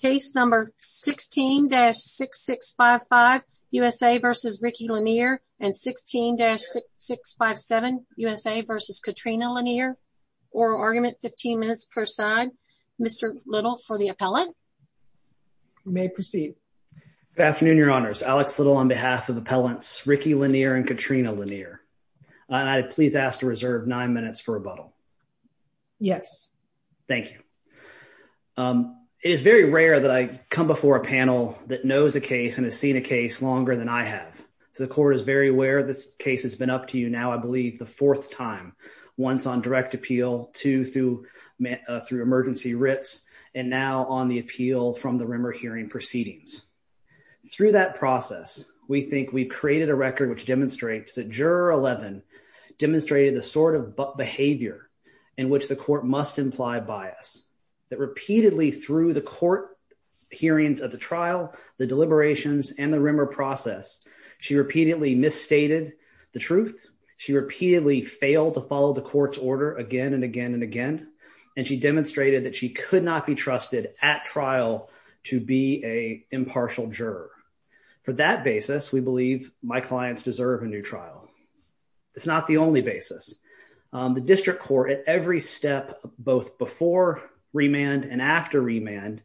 Case number 16-6655, USA versus Ricky Lanier and 16-6657, USA versus Katrina Lanier. Oral argument, 15 minutes per side. Mr. Little for the appellant. You may proceed. Good afternoon, your honors. Alex Little on behalf of appellants Ricky Lanier and Katrina Lanier. I please ask to reserve nine minutes for rebuttal. Yes. Thank you. Um, it is very rare that I come before a panel that knows a case and has seen a case longer than I have. So the court is very aware this case has been up to you now, I believe, the fourth time, once on direct appeal, two through, through emergency writs, and now on the appeal from the Rimmer hearing proceedings. Through that process, we think we've created a record which demonstrates that Juror 11 demonstrated the sort of behavior in which the court must imply bias. That repeatedly through the court hearings of the trial, the deliberations, and the Rimmer process, she repeatedly misstated the truth. She repeatedly failed to follow the court's order again and again and again. And she demonstrated that she could not be trusted at trial to be a impartial juror. For that basis, we believe my clients deserve a new trial. It's not the only Riemann and after Riemann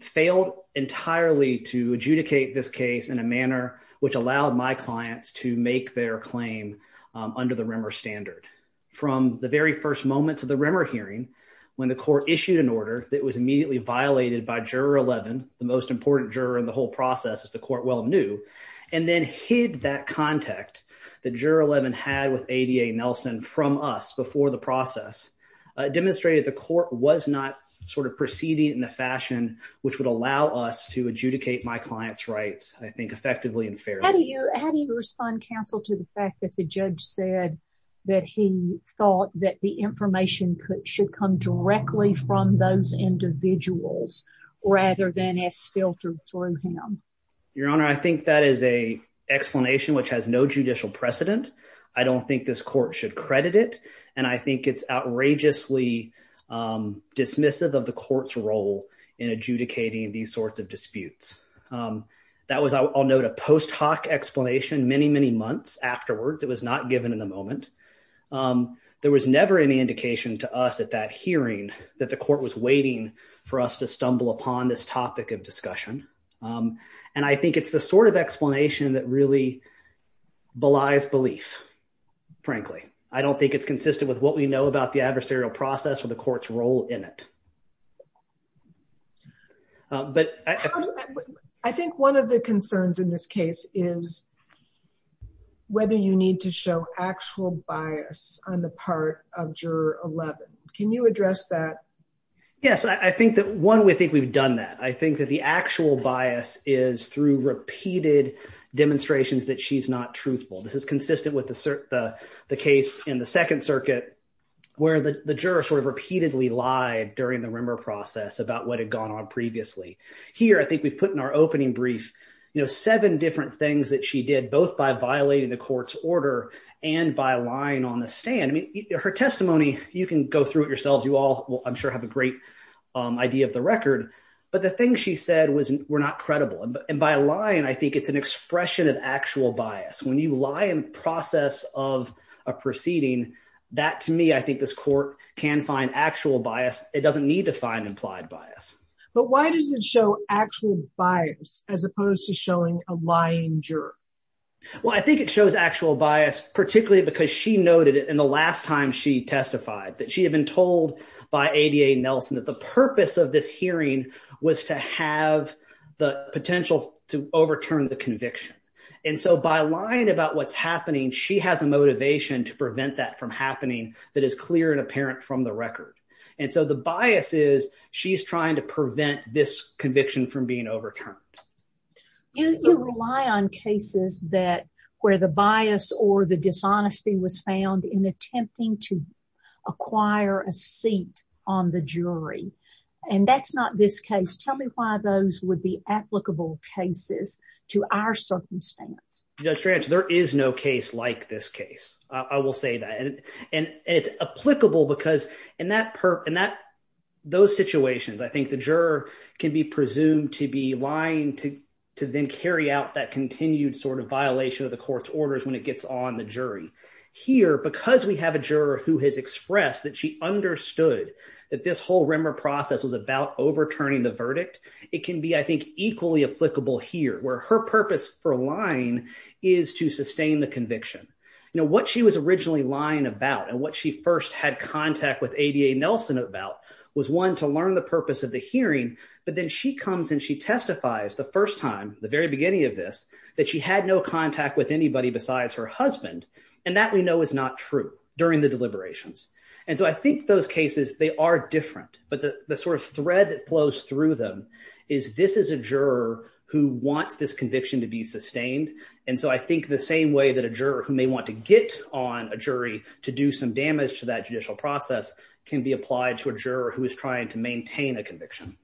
failed entirely to adjudicate this case in a manner which allowed my clients to make their claim under the Rimmer standard. From the very first moments of the Rimmer hearing, when the court issued an order that was immediately violated by Juror 11, the most important juror in the whole process as the court well knew, and then hid that contact that Juror 11 had with ADA Nelson from us before the process, demonstrated the court was not sort of proceeding in the fashion which would allow us to adjudicate my client's rights, I think, effectively and fairly. How do you respond, counsel, to the fact that the judge said that he thought that the information should come directly from those individuals rather than as precedent? I don't think this court should credit it, and I think it's outrageously dismissive of the court's role in adjudicating these sorts of disputes. That was, I'll note, a post hoc explanation many, many months afterwards. It was not given in the moment. There was never any indication to us at that hearing that the court was waiting for us to stumble upon this topic of belief, frankly. I don't think it's consistent with what we know about the adversarial process or the court's role in it. I think one of the concerns in this case is whether you need to show actual bias on the part of Juror 11. Can you address that? Yes, I think that one, we think we've done that. I think that the actual bias is through repeated demonstrations that she's not truthful. This is consistent with the case in the Second Circuit, where the juror sort of repeatedly lied during the Rimmer process about what had gone on previously. Here, I think we've put in our opening brief, you know, seven different things that she did, both by violating the court's order and by lying on the stand. I mean, her testimony, you can go through it yourselves. You all will, I'm sure, have a great idea of the record, but the things she said were not credible. And by lying, I think it's an expression of actual bias. When you lie in process of a proceeding, that to me, I think this court can find actual bias. It doesn't need to find implied bias. But why does it show actual bias as opposed to showing a lying juror? Well, I think it shows actual bias, particularly because she noted it in the last time she testified, that she had told by ADA Nelson that the purpose of this hearing was to have the potential to overturn the conviction. And so by lying about what's happening, she has a motivation to prevent that from happening that is clear and apparent from the record. And so the bias is she's trying to prevent this conviction from being overturned. You rely on cases that where the bias or the dishonesty was found in attempting to acquire a seat on the jury. And that's not this case. Tell me why those would be applicable cases to our circumstance. Judge Trance, there is no case like this case. I will say that. And it's applicable because in that, those situations, I think the juror can be presumed to be lying to then carry out that continued sort of violation of the court's Here, because we have a juror who has expressed that she understood that this whole Rimmer process was about overturning the verdict, it can be, I think, equally applicable here, where her purpose for lying is to sustain the conviction. You know, what she was originally lying about and what she first had contact with ADA Nelson about was one to learn the purpose of the hearing. But then she comes and she testifies the first time, the very beginning of this, that she had no contact with And that we know is not true during the deliberations. And so I think those cases, they are different, but the sort of thread that flows through them is this is a juror who wants this conviction to be sustained. And so I think the same way that a juror who may want to get on a jury to do some damage to that judicial process can be applied to a juror who is trying to maintain a conviction.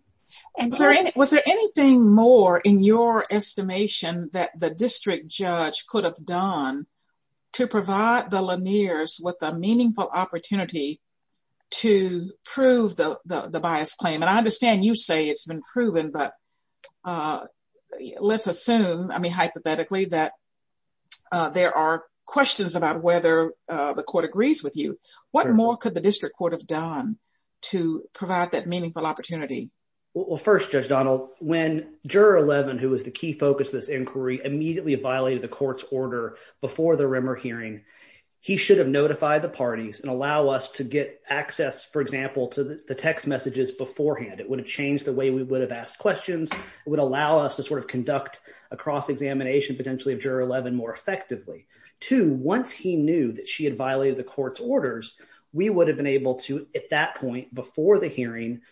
And was there anything more in your estimation that the district judge could have done to provide the Laniers with a meaningful opportunity to prove the bias claim? And I understand you say it's been proven, but let's assume, I mean, hypothetically, that there are questions about whether the court agrees with you. What more could the district court have done to provide that meaningful opportunity? Well, first, Judge Donald, when Juror 11, who was the key focus of this inquiry, immediately violated the court's order before the Rimmer hearing, he should have notified the parties and allow us to get access, for example, to the text messages beforehand. It would have changed the way we would have asked questions. It would allow us to sort of conduct a cross-examination potentially of Juror 11 more effectively. Two, once he knew that she had violated the court's orders, we would have been able to, at that point before the hearing,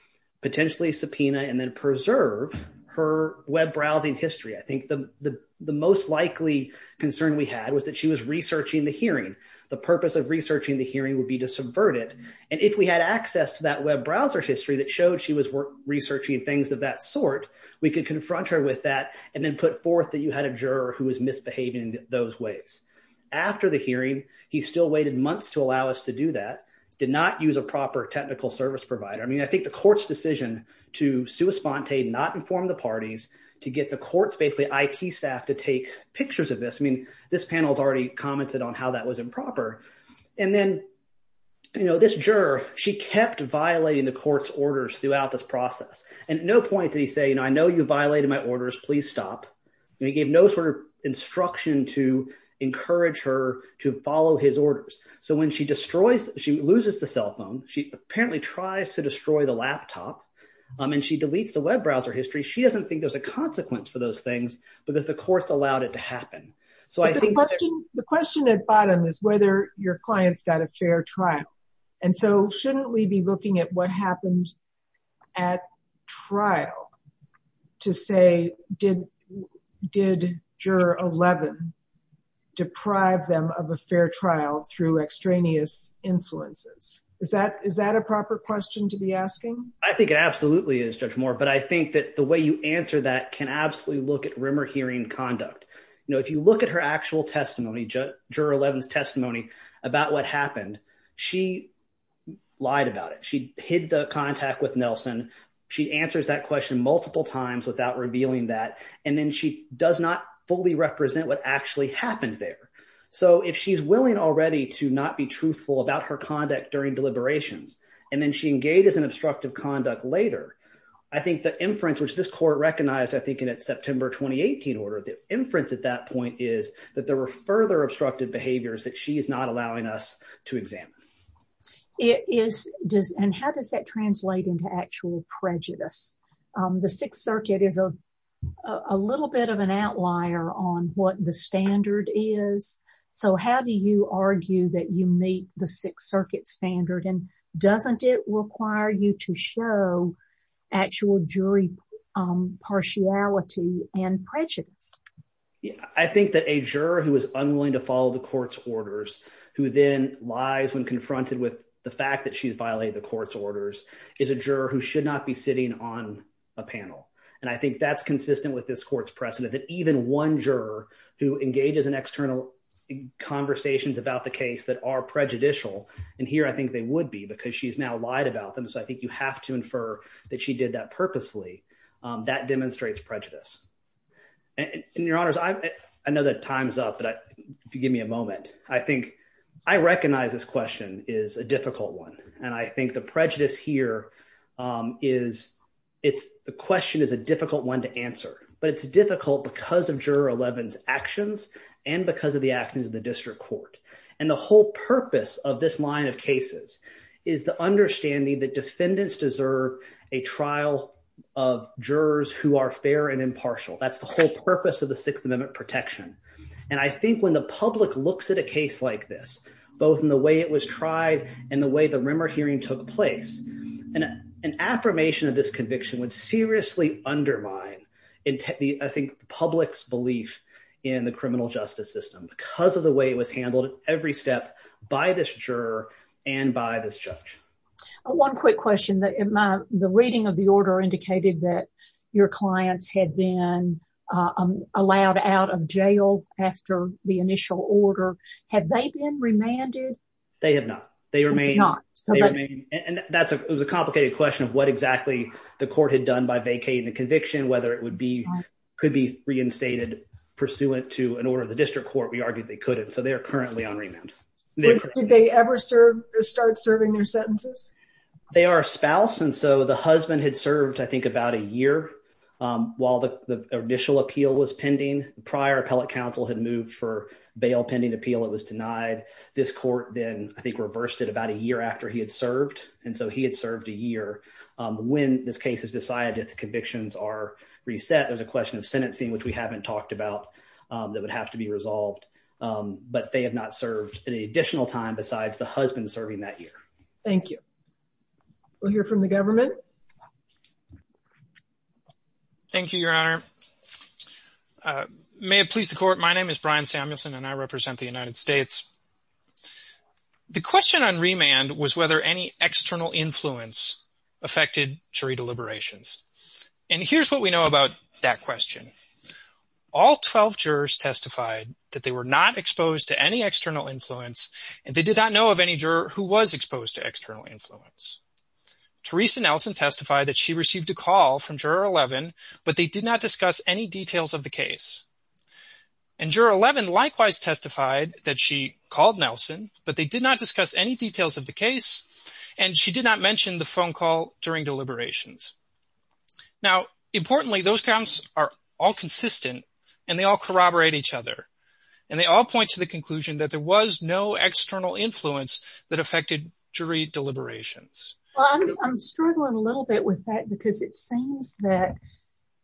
potentially subpoena and then preserve her web browsing history. I think the most likely concern we had was that she was researching the hearing. The purpose of researching the hearing would be to subvert it. And if we had access to that web browser history that showed she was researching things of that sort, we could confront her with that and then put forth that you had a juror who was misbehaving in those ways. After the hearing, he still waited months to allow us to do that, did not use a proper technical service provider. I mean, I think the court's decision to sui sponte, not inform the parties, to get the court's basically IT staff to take pictures of this, I mean, this panel's already commented on how that was improper. And then, you know, this juror, she kept violating the court's orders throughout this process. And no point did he say, you know, I know you violated my orders, please stop. He gave no sort of instruction to encourage her to follow his orders. So when she destroys, she loses the cell phone, she apparently tries to destroy the laptop. And she deletes the web browser history. She doesn't think there's a consequence for those things, because the courts allowed it to happen. So I think the question at bottom is whether your clients got a fair trial. And so shouldn't we be looking at what happened at trial to say, did did juror 11 deprive them of a fair trial through extraneous influences? Is that is that a proper question to be asking? I think it absolutely is Judge Moore. But I think that the way you answer that can absolutely look at rumor hearing conduct. You know, if you look at her actual testimony, just juror 11 testimony about what happened. She lied about it. She hid the contact with Nelson. She answers that question multiple times without revealing that. And then she does not fully represent what actually happened there. So if she's willing already to not be truthful about her conduct during deliberations, and then she engages in obstructive conduct later, I think the inference which this court recognized, I think in its September 2018 order, the inference at that point is that there were further obstructive behaviors that she is not allowing us to examine. It is does and how does that translate into actual prejudice? The Sixth Circuit is a a little bit of an outlier on what the standard is. So how do you argue that you meet the Sixth Circuit standard? And doesn't it require you to show actual jury partiality and prejudice? Yeah, I think that a juror who is unwilling to follow the court's orders, who then lies when confronted with the fact that she's violated the court's orders, is a juror who should not be sitting on a panel. And I think that's consistent with this court's precedent that even one juror who engages in external conversations about the case that are prejudicial, and here, I think they would be because she's now lied about them. So I think you have to infer that she did that purposefully. That demonstrates prejudice. And your honors, I know that time's up, but give me a moment. I think I recognize this question is a difficult one. And I think the prejudice here is it's the question is a difficult one to answer, but it's difficult because of Juror 11's actions and because of the actions of the district court. And the whole purpose of this line of cases is the understanding that defendants deserve a trial of jurors who are fair and impartial. That's the whole purpose of the Sixth Amendment protection. And I think when the public looks at a case like this, both in the way it was tried and the way the Rimmer hearing took place, an affirmation of this conviction would seriously undermine, I think, the public's belief in the criminal justice system because of the way it handled every step by this juror and by this judge. One quick question. The reading of the order indicated that your clients had been allowed out of jail after the initial order. Have they been remanded? They have not. They remain not. And that's a complicated question of what exactly the court had done by vacating the conviction, whether it could be reinstated pursuant to an order of the district court. We argued they couldn't. So they are currently on remand. Did they ever start serving their sentences? They are a spouse. And so the husband had served, I think, about a year while the initial appeal was pending. The prior appellate counsel had moved for bail pending appeal. It was denied. This court then, I think, reversed it about a year after he had served. And so he had served a year. When this case is decided, its convictions are reset. There's a question of sentencing, which we haven't talked about, that would have to be resolved. But they have not served any additional time besides the husband serving that year. Thank you. We'll hear from the government. Thank you, Your Honor. May it please the court, my name is Brian Samuelson and I represent the United States. The question on remand was whether any external influence affected jury deliberations. And here's what we know about that question. All 12 jurors testified that they were not exposed to any external influence and they did not know of any juror who was exposed to external influence. Teresa Nelson testified that she received a call from Juror 11, but they did not discuss any details of the case. And Juror 11 likewise testified that she called Nelson, but they did not discuss any and she did not mention the phone call during deliberations. Now, importantly, those counts are all consistent and they all corroborate each other. And they all point to the conclusion that there was no external influence that affected jury deliberations. I'm struggling a little bit with that because it seems that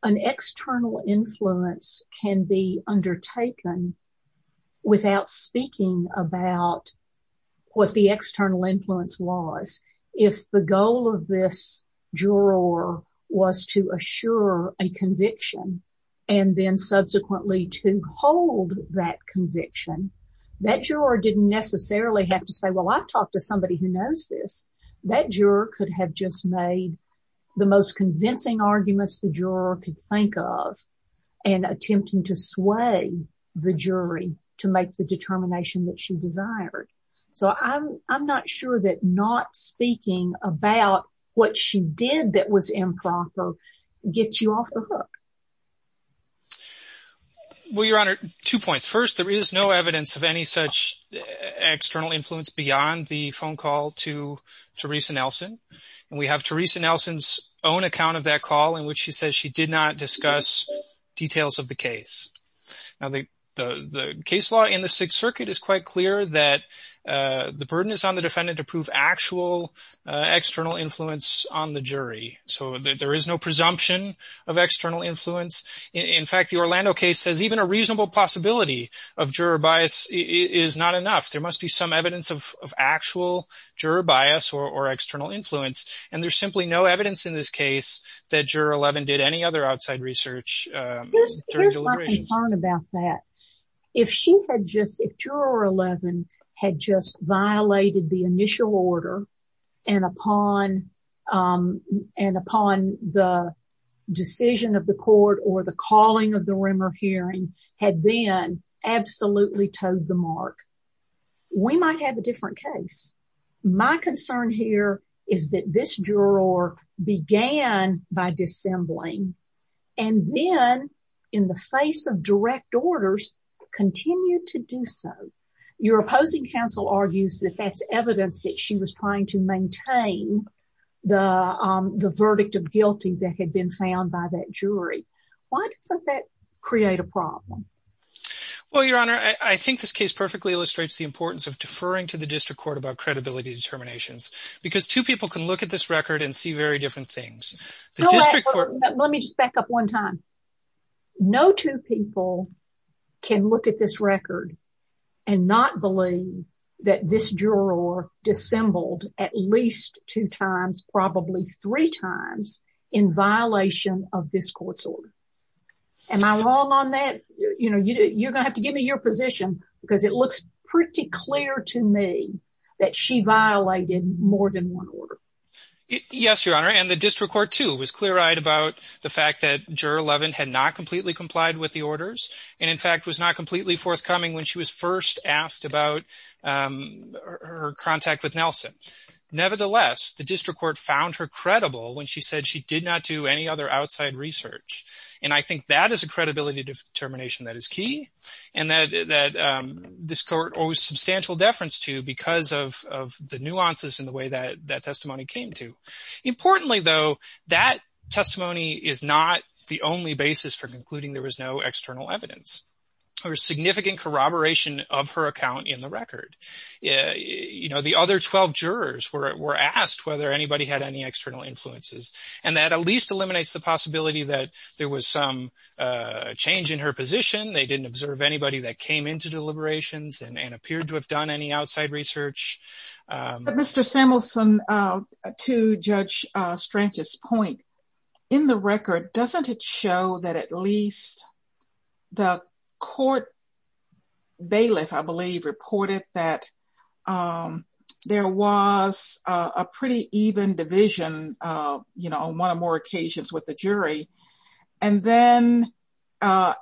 an external influence can be undertaken without speaking about what the external influence was. If the goal of this juror was to assure a conviction and then subsequently to hold that conviction, that juror didn't necessarily have to say, well, I've talked to somebody who knows this. That juror could have just made the most convincing arguments the juror could think of and attempting to sway the jury to make the determination that she desired. So I'm not sure that not speaking about what she did that was improper gets you off the hook. Well, Your Honor, two points. First, there is no evidence of any such external influence beyond the phone call to Teresa Nelson. And we have Teresa Nelson's own account of that call in which she says she did not discuss details of the case. Now, the case law in the Sixth Circuit is quite clear that the burden is on the defendant to prove actual external influence on the jury. So there is no presumption of external influence. In fact, the Orlando case says even a reasonable possibility of juror bias is not enough. There must be some evidence of actual juror bias or external influence. And there's simply no evidence in this case that Juror 11 did any other outside research during deliberations. Here's my concern about that. If Juror 11 had just violated the initial order and upon the decision of the court or the calling of the Rimmer hearing had then absolutely toed the mark, we might have a different case. My concern here is that this juror had violated the initial order and then, in the face of direct orders, continued to do so. Your opposing counsel argues that that's evidence that she was trying to maintain the verdict of guilty that had been found by that jury. Why doesn't that create a problem? Well, Your Honor, I think this case perfectly illustrates the importance of deferring to the District Court about credibility determinations because two people can look at this record and see very different things. Let me just back up one time. No two people can look at this record and not believe that this juror dissembled at least two times, probably three times, in violation of this court's order. Am I wrong on that? You know, you're gonna have to give me your position because it looks pretty clear to me that she violated more than one order. Yes, Your Honor, and the District Court, too, was clear-eyed about the fact that Juror 11 had not completely complied with the orders and, in fact, was not completely forthcoming when she was first asked about her contact with Nelson. Nevertheless, the District Court found her credible when she said she did not do any other outside research, and I think that is a credibility determination that is key and that this court owes substantial deference to because of the nuances in the way that testimony came to. Importantly, though, that testimony is not the only basis for concluding there was no external evidence. There was significant corroboration of her account in the record. You know, the other 12 jurors were asked whether anybody had any external influences, and that at least eliminates the possibility that there was some change in her position, they didn't observe anybody that came into deliberations and appeared to have done any so. Your Honor, to Judge Strange's point, in the record, doesn't it show that at least the court bailiff, I believe, reported that there was a pretty even division, you know, on one or more occasions with the jury, and then after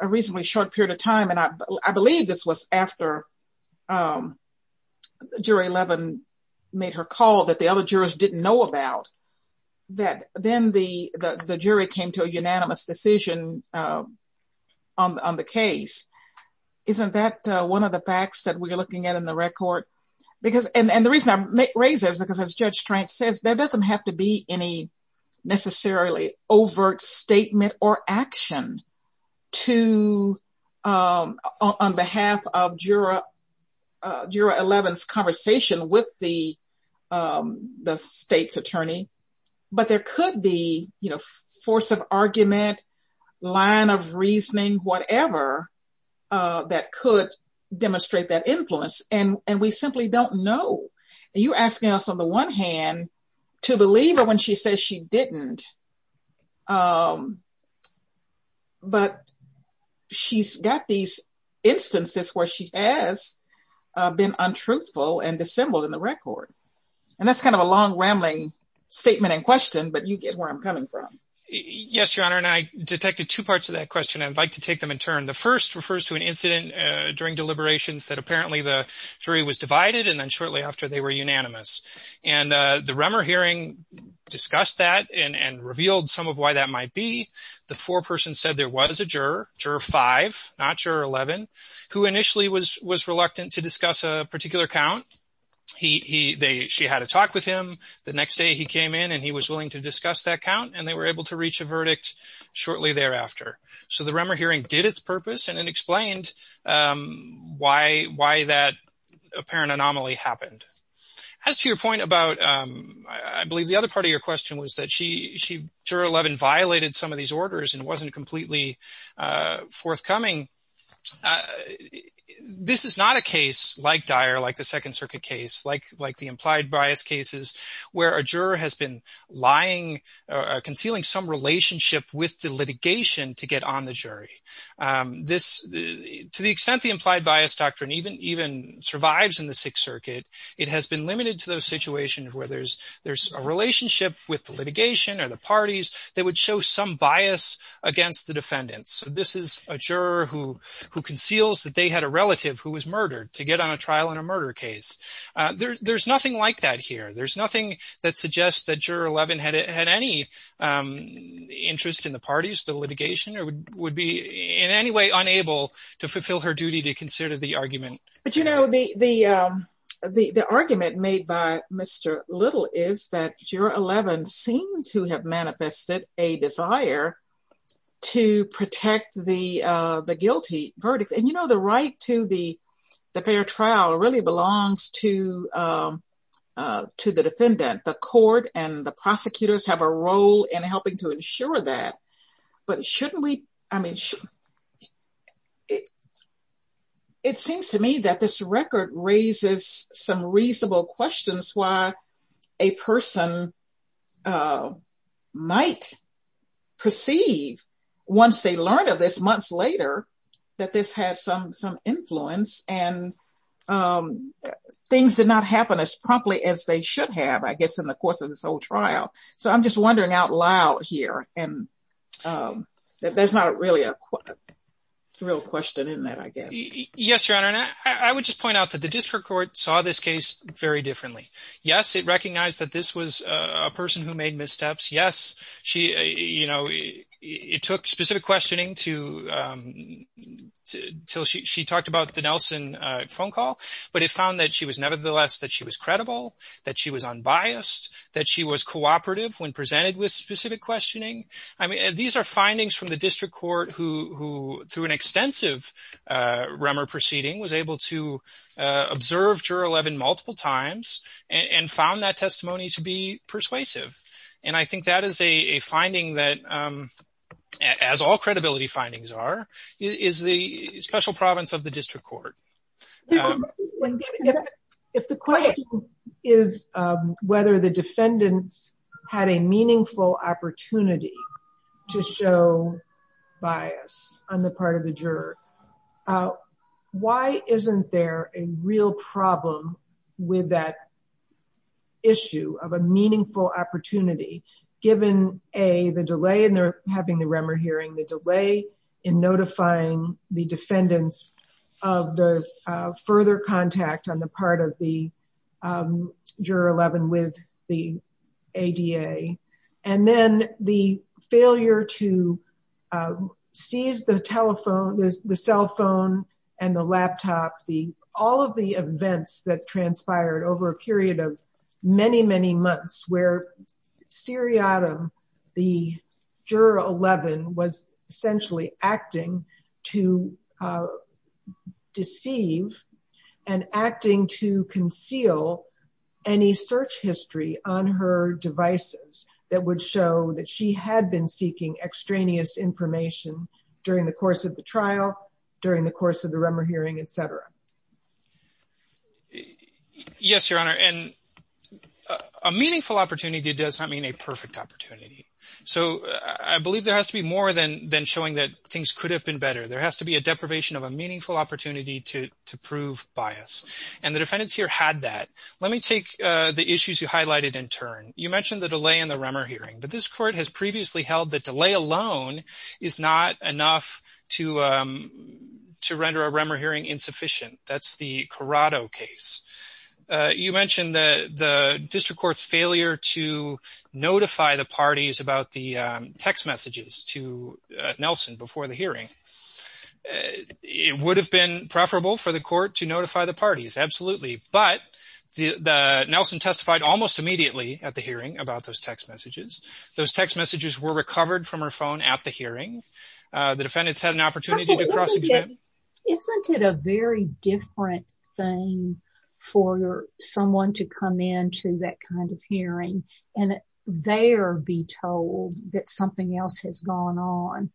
a reasonably short period of time, and I believe this was after Jury 11 made her call that the other jurors didn't know about, that then the jury came to a unanimous decision on the case. Isn't that one of the facts that we're looking at in the record? And the reason I raise that is because, as Judge Strange says, there doesn't have to be any necessarily overt statement or action on behalf of Jury 11's conversation with the state's attorney, but there could be, you know, force of argument, line of reasoning, whatever, that could demonstrate that influence, and we simply don't know. You're asking us, on the one hand, to believe her when she says she didn't, but she's got these instances where she has been untruthful and dissembled in the record, and that's kind of a long, rambling statement and question, but you get where I'm coming from. Yes, Your Honor, and I detected two parts of that question, and I'd like to take them in turn. The first refers to an incident during deliberations that apparently the jury was divided, and then after they were unanimous, and the Remmer hearing discussed that and revealed some of why that might be. The foreperson said there was a juror, Juror 5, not Juror 11, who initially was reluctant to discuss a particular count. She had a talk with him. The next day, he came in, and he was willing to discuss that count, and they were able to reach a verdict shortly thereafter. So the juror explained why that apparent anomaly happened. As to your point about, I believe the other part of your question was that Juror 11 violated some of these orders and wasn't completely forthcoming. This is not a case like Dyer, like the Second Circuit case, like the implied bias cases, where a juror has been lying, concealing some relationship with the litigation to get on the trial. To the extent the implied bias doctrine even survives in the Sixth Circuit, it has been limited to those situations where there's a relationship with the litigation or the parties that would show some bias against the defendants. This is a juror who conceals that they had a relative who was murdered to get on a trial in a murder case. There's nothing like that here. There's nothing that suggests that Juror 11 had any interest in the parties, the litigation, or to fulfill her duty to consider the argument. But you know, the argument made by Mr. Little is that Juror 11 seemed to have manifested a desire to protect the guilty verdict. And you know, the right to the fair trial really belongs to the defendant. The court and the prosecutors have a role in helping to ensure that. But shouldn't we, I mean, it seems to me that this record raises some reasonable questions why a person might perceive, once they learn of this months later, that this had some influence and things did not happen as promptly as they should have, I guess, in the course of this whole trial. So I'm just wondering out loud here. And there's not really a real question in that, I guess. Yes, Your Honor. And I would just point out that the District Court saw this case very differently. Yes, it recognized that this was a person who made missteps. Yes, it took specific questioning until she talked about the Nelson phone call. But it found that was nevertheless that she was credible, that she was unbiased, that she was cooperative when presented with specific questioning. I mean, these are findings from the District Court who, through an extensive Rummer proceeding, was able to observe Juror 11 multiple times and found that testimony to be persuasive. And I think that is a finding that, as all credibility findings are, is the special province of the District Court. If the question is whether the defendants had a meaningful opportunity to show bias on the part of the juror, why isn't there a real problem with that issue of a meaningful opportunity, given the delay in having the Rummer hearing, the delay in notifying the defendants of the further contact on the part of the Juror 11 with the ADA, and then the failure to seize the telephone, the cell phone and the laptop, all of the events that transpired over a period of many, many months where seriatim, the Juror 11, was essentially acting to deceive and acting to conceal any search history on her devices that would show that she had been seeking extraneous information during the course of the trial, during the course of the Rummer hearing, etc. Yes, Your Honor, and a meaningful opportunity does not mean a perfect opportunity. So, I believe there has to be more than showing that things could have been better. There has to be a deprivation of a meaningful opportunity to prove bias. And the defendants here had that. Let me take the issues you highlighted in turn. You mentioned the delay in the Rummer hearing, but this Court has previously held that delay alone is not enough to render a Rummer hearing insufficient. That's the Corrado case. You mentioned the District Court's failure to notify the parties about the text messages to Nelson before the hearing. It would have been preferable for the Court to notify the parties, absolutely, but Nelson testified almost immediately at the hearing about those text messages. Those text messages were recovered from her phone at the hearing. The defendants had an opportunity to cross-examine. Isn't it a very different thing for someone to come into that kind of hearing and there be told that something else has gone on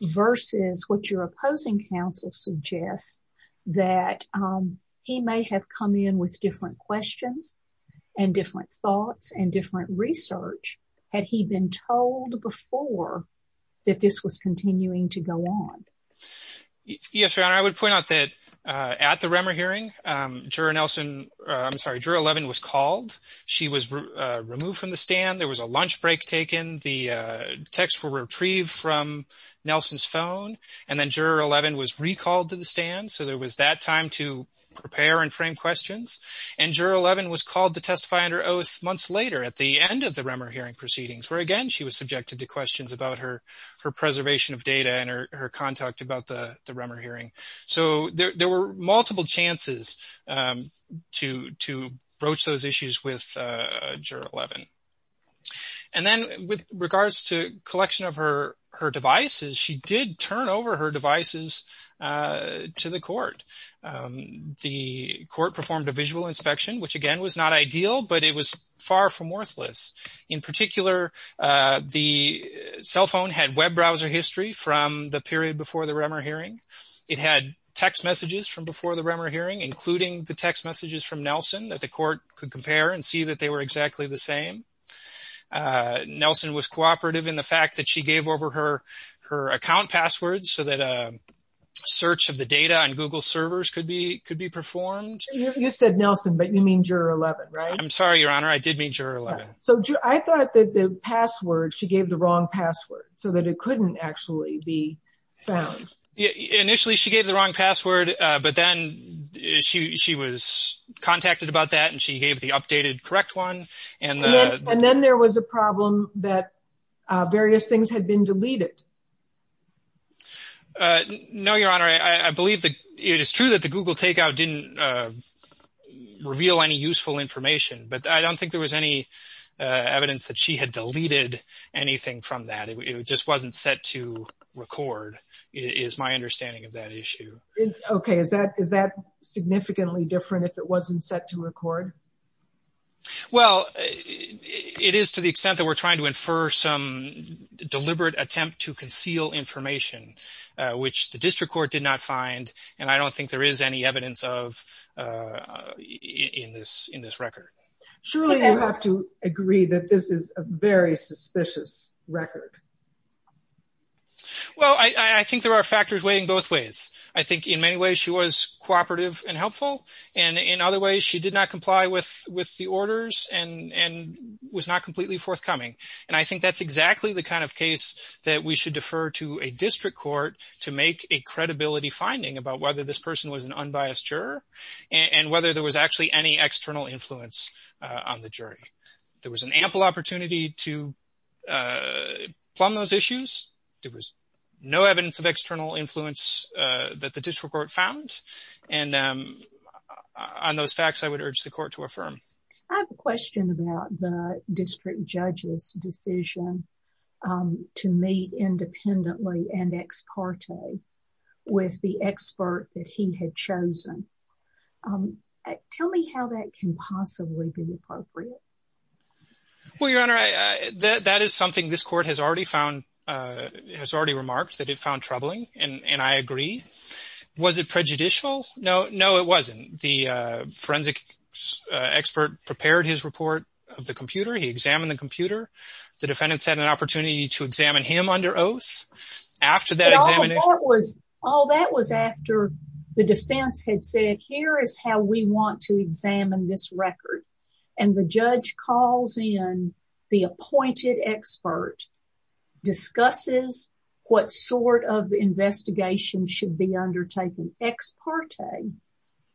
versus what your opposing counsel suggests that he may have come in with different questions and different thoughts and different research had he been told before that this was continuing to go on? Yes, Your Honor. I would point out that at the Rummer hearing, Juror 11 was called. She was removed from the stand. There was a lunch break taken. The texts were retrieved from Nelson's phone, and then Juror 11 was recalled to the and Juror 11 was called to testify under oath months later at the end of the Rummer hearing proceedings, where again, she was subjected to questions about her preservation of data and her contact about the Rummer hearing. So there were multiple chances to broach those issues with Juror 11. And then with regards to collection of her devices, she did turn over her devices to the court. The court performed a visual inspection, which again was not ideal, but it was far from worthless. In particular, the cell phone had web browser history from the period before the Rummer hearing. It had text messages from before the Rummer hearing, including the text messages from Nelson that the court could compare and see that they were exactly the same. Nelson was cooperative in the fact that she gave over her account passwords so that search of the data on Google servers could be could be performed. You said Nelson, but you mean Juror 11, right? I'm sorry, Your Honor. I did mean Juror 11. So I thought that the password, she gave the wrong password so that it couldn't actually be found. Initially, she gave the wrong password, but then she was contacted about that, and she gave the updated correct one. And then there was a problem that various things had been deleted. No, Your Honor. I believe that it is true that the Google takeout didn't reveal any useful information, but I don't think there was any evidence that she had deleted anything from that. It just wasn't set to record, is my understanding of that issue. Okay. Is that significantly different if it wasn't set to record? Well, it is to the extent that we're trying to infer some deliberate attempt to record to conceal information, which the district court did not find, and I don't think there is any evidence of in this record. Surely you have to agree that this is a very suspicious record. Well, I think there are factors weighing both ways. I think in many ways she was cooperative and helpful, and in other ways she did not comply with the orders and was not deferred to a district court to make a credibility finding about whether this person was an unbiased juror and whether there was actually any external influence on the jury. There was an ample opportunity to plumb those issues. There was no evidence of external influence that the district court found. And on those facts, I would urge the court to affirm. I have a question about the district judge's decision to meet independently and ex parte with the expert that he had chosen. Tell me how that can possibly be appropriate. Well, Your Honor, that is something this court has already found, has already remarked that it prepared his report of the computer. He examined the computer. The defendants had an opportunity to examine him under oath after that examination. All that was after the defense had said, here is how we want to examine this record. And the judge calls in the appointed expert, discusses what sort of investigation should be undertaken ex parte,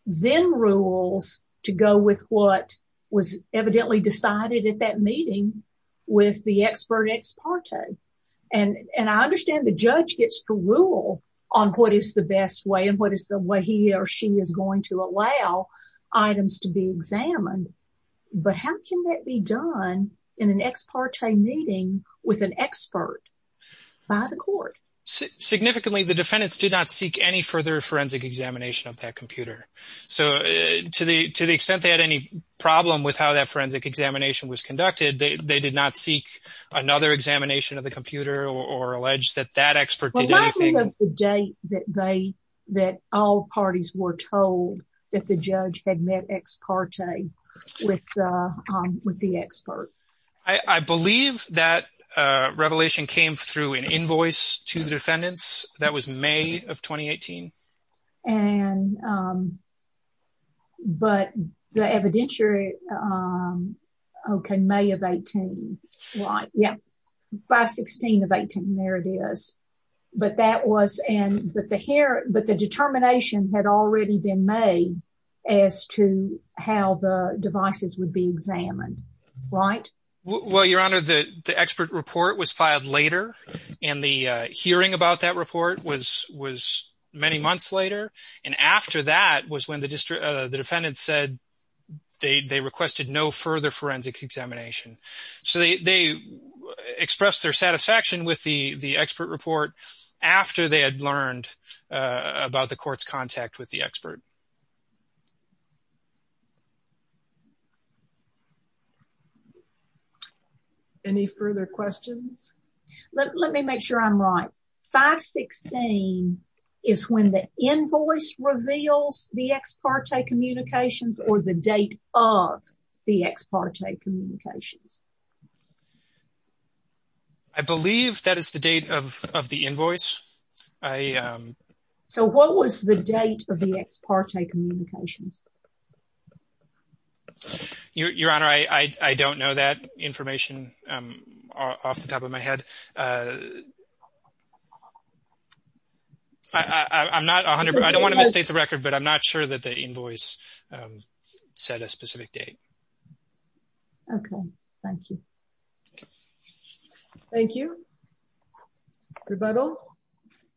then rules to go with what was evidently decided at that meeting with the expert ex parte. And I understand the judge gets to rule on what is the best way and what is the way he or she is going to allow items to be examined. But how can that be done in an ex parte meeting with an expert by the court? Significantly, the defendants did not seek any further forensic examination of that computer. So to the extent they had any problem with how that forensic examination was conducted, they did not seek another examination of the computer or allege that that expert did anything. Remind me of the date that all parties were told that the judge had met ex parte with the expert. I believe that revelation came through an invoice to the defendants. That was May of 2018. But the evidentiary, okay, May of 18. Right. Yeah. 5-16 of 18. There it is. But that was, but the determination had already been made as to how the devices would be examined. Right? Well, Your Honor, the expert report was filed later and the hearing about that report was many months later. And after that was when the defendant said they requested no further forensic examination. So they expressed their satisfaction with the expert report after they had learned about the court's contact with the expert. Okay. Any further questions? Let me make sure I'm right. 5-16 is when the invoice reveals the ex parte communications or the date of the ex parte communications. I believe that is the date of the invoice. So what was the date of the ex parte communications? Your Honor, I don't know that information off the top of my head. I'm not 100, I don't want to misstate the record, but I'm not sure that the invoice said a specific date. Okay. Thank you. Thank you. Rebuttal?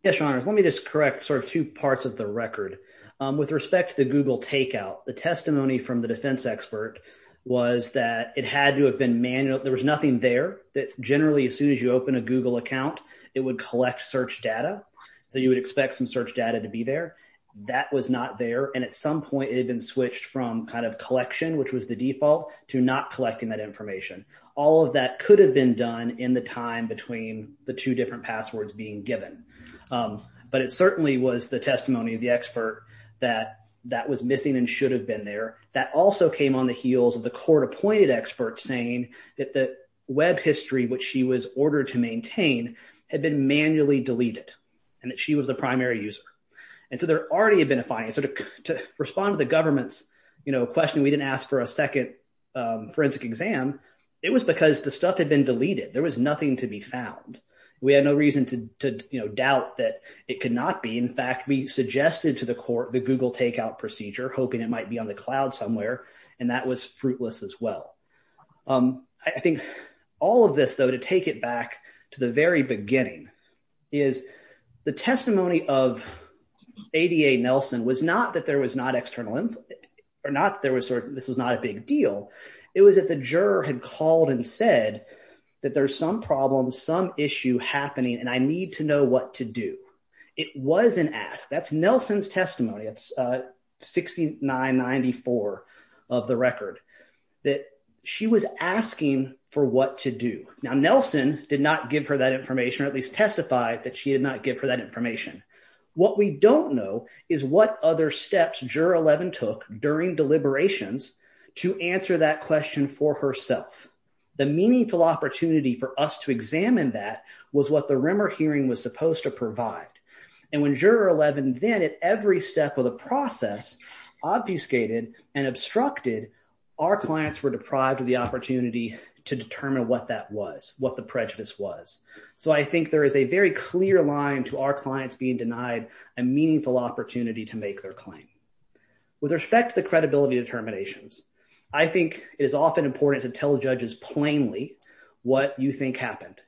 Yes, Your Honor. Let me just correct sort of two parts of the record. With respect to the Google takeout, the testimony from the defense expert was that it had to have been manual. There was nothing there that generally, as soon as you open a Google account, it would collect search data. So you would expect some search data to be there. That was not there. And at some point it had been switched from kind of collection, which was the default, to not collecting that information. All of that could have been done in the time between the two different passwords being given. But it certainly was the testimony of the expert that that was missing and should have been there. That also came on the heels of the court appointed experts saying that the web history, which she was ordered to maintain, had been manually deleted and that she was the primary user. And so there already had been a fine. So to respond to the government's question, we didn't ask for a second forensic exam. It was because the stuff had been deleted. There was nothing to be found. We had no reason to doubt that it could not be. In fact, we suggested to the court the Google takeout procedure, hoping it might be on the cloud somewhere, and that was fruitless as well. I think all of this, though, to take it back to the very beginning, is the testimony of ADA Nelson was not that there was not external, or not there was sort of, this was not a big deal. It was that the juror had called and said that there's some problems, some issue happening, and I need to know what to do. It was an ask. That's Nelson's testimony. It's 6994 of the record that she was asking for what to do. Now, Nelson did not give her that information, or at least testify that she did not give her that information. What we don't know is what other steps Juror 11 took during deliberations to answer that question for herself. The meaningful opportunity for us to examine that was what the Rimmer hearing was supposed to provide, and when Juror 11 then, at every step of the process, obfuscated and obstructed, our clients were deprived of the opportunity to determine what that was, what the prejudice was. So I think there is a very clear line to our clients being denied a meaningful opportunity to make their claim. With respect to the credibility determinations, I think it is often important to tell judges plainly what you think happened.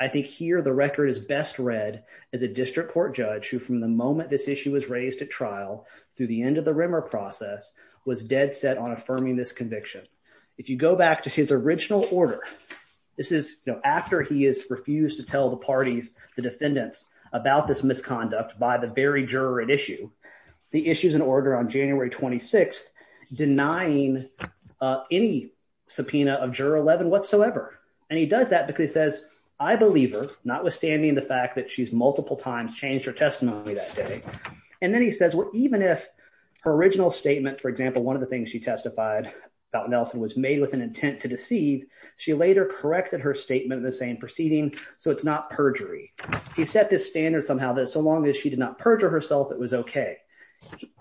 I think here the record is best read as a district court judge who, from the moment this issue was raised at trial, through the end of the Rimmer process, was dead set on affirming this conviction. If you go back to his original order, this is, you know, after he has refused to tell the parties, the defendants, about this misconduct by the very juror at issue, the issues and order on January 26th, denying any subpoena of Juror 11 whatsoever. And he does that because he says, I believe her, notwithstanding the fact that she's multiple times changed her testimony that day. And then he says, well, even if her original statement, for example, one of the things she testified about Nelson was made with an intent to deceive, she later corrected her statement in the same proceeding, so it's not perjury. He set this standard somehow that so long as she did not perjure herself, it was okay.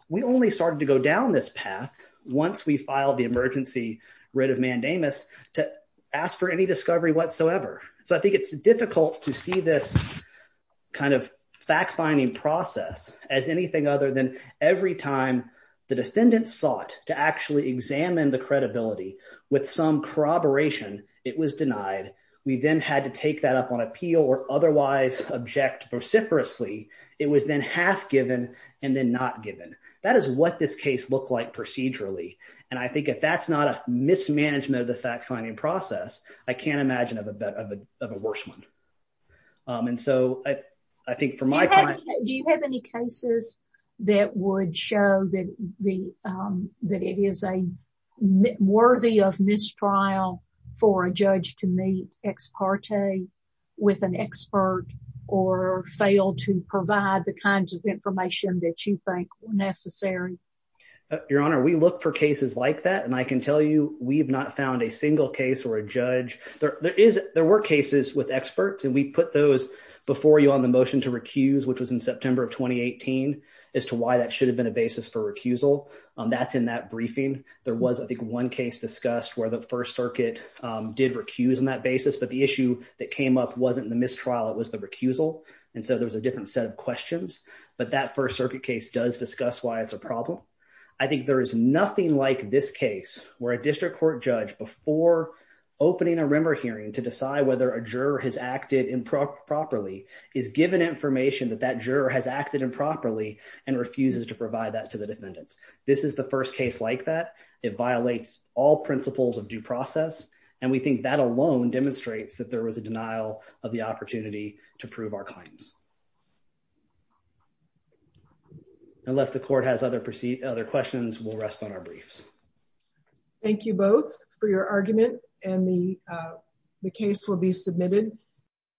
We only started to go down this path once we filed the emergency writ of mandamus to ask for any discovery whatsoever. So I think it's difficult to see this kind of fact-finding process as anything other than every time the defendant sought to actually examine the credibility with some corroboration, it was denied. We then had to take that up on given and then not given. That is what this case looked like procedurally. And I think if that's not a mismanagement of the fact-finding process, I can't imagine of a worse one. And so I think for my client... Do you have any cases that would show that it is a worthy of mistrial for a judge to meet ex parte with an expert or fail to provide the kinds of information that you think were necessary? Your Honor, we look for cases like that, and I can tell you we've not found a single case or a judge. There were cases with experts, and we put those before you on the motion to recuse, which was in September of 2018, as to why that should have been a basis for recusal. That's in that briefing. There was, I think, one case discussed where the First Circuit did recuse on that basis, but the issue that came up wasn't the mistrial. It was the recusal. And so there was a different set of questions, but that First Circuit case does discuss why it's a problem. I think there is nothing like this case where a district court judge, before opening a rimmer hearing to decide whether a juror has acted improperly, is given information that that juror has acted improperly and refuses to provide that to the defendants. This is the first case like that. It violates all principles of due process, and we think that alone demonstrates that there was a denial of the opportunity to prove our claims. Unless the Court has other questions, we'll rest on our briefs. Thank you both for your argument, and the case will be submitted.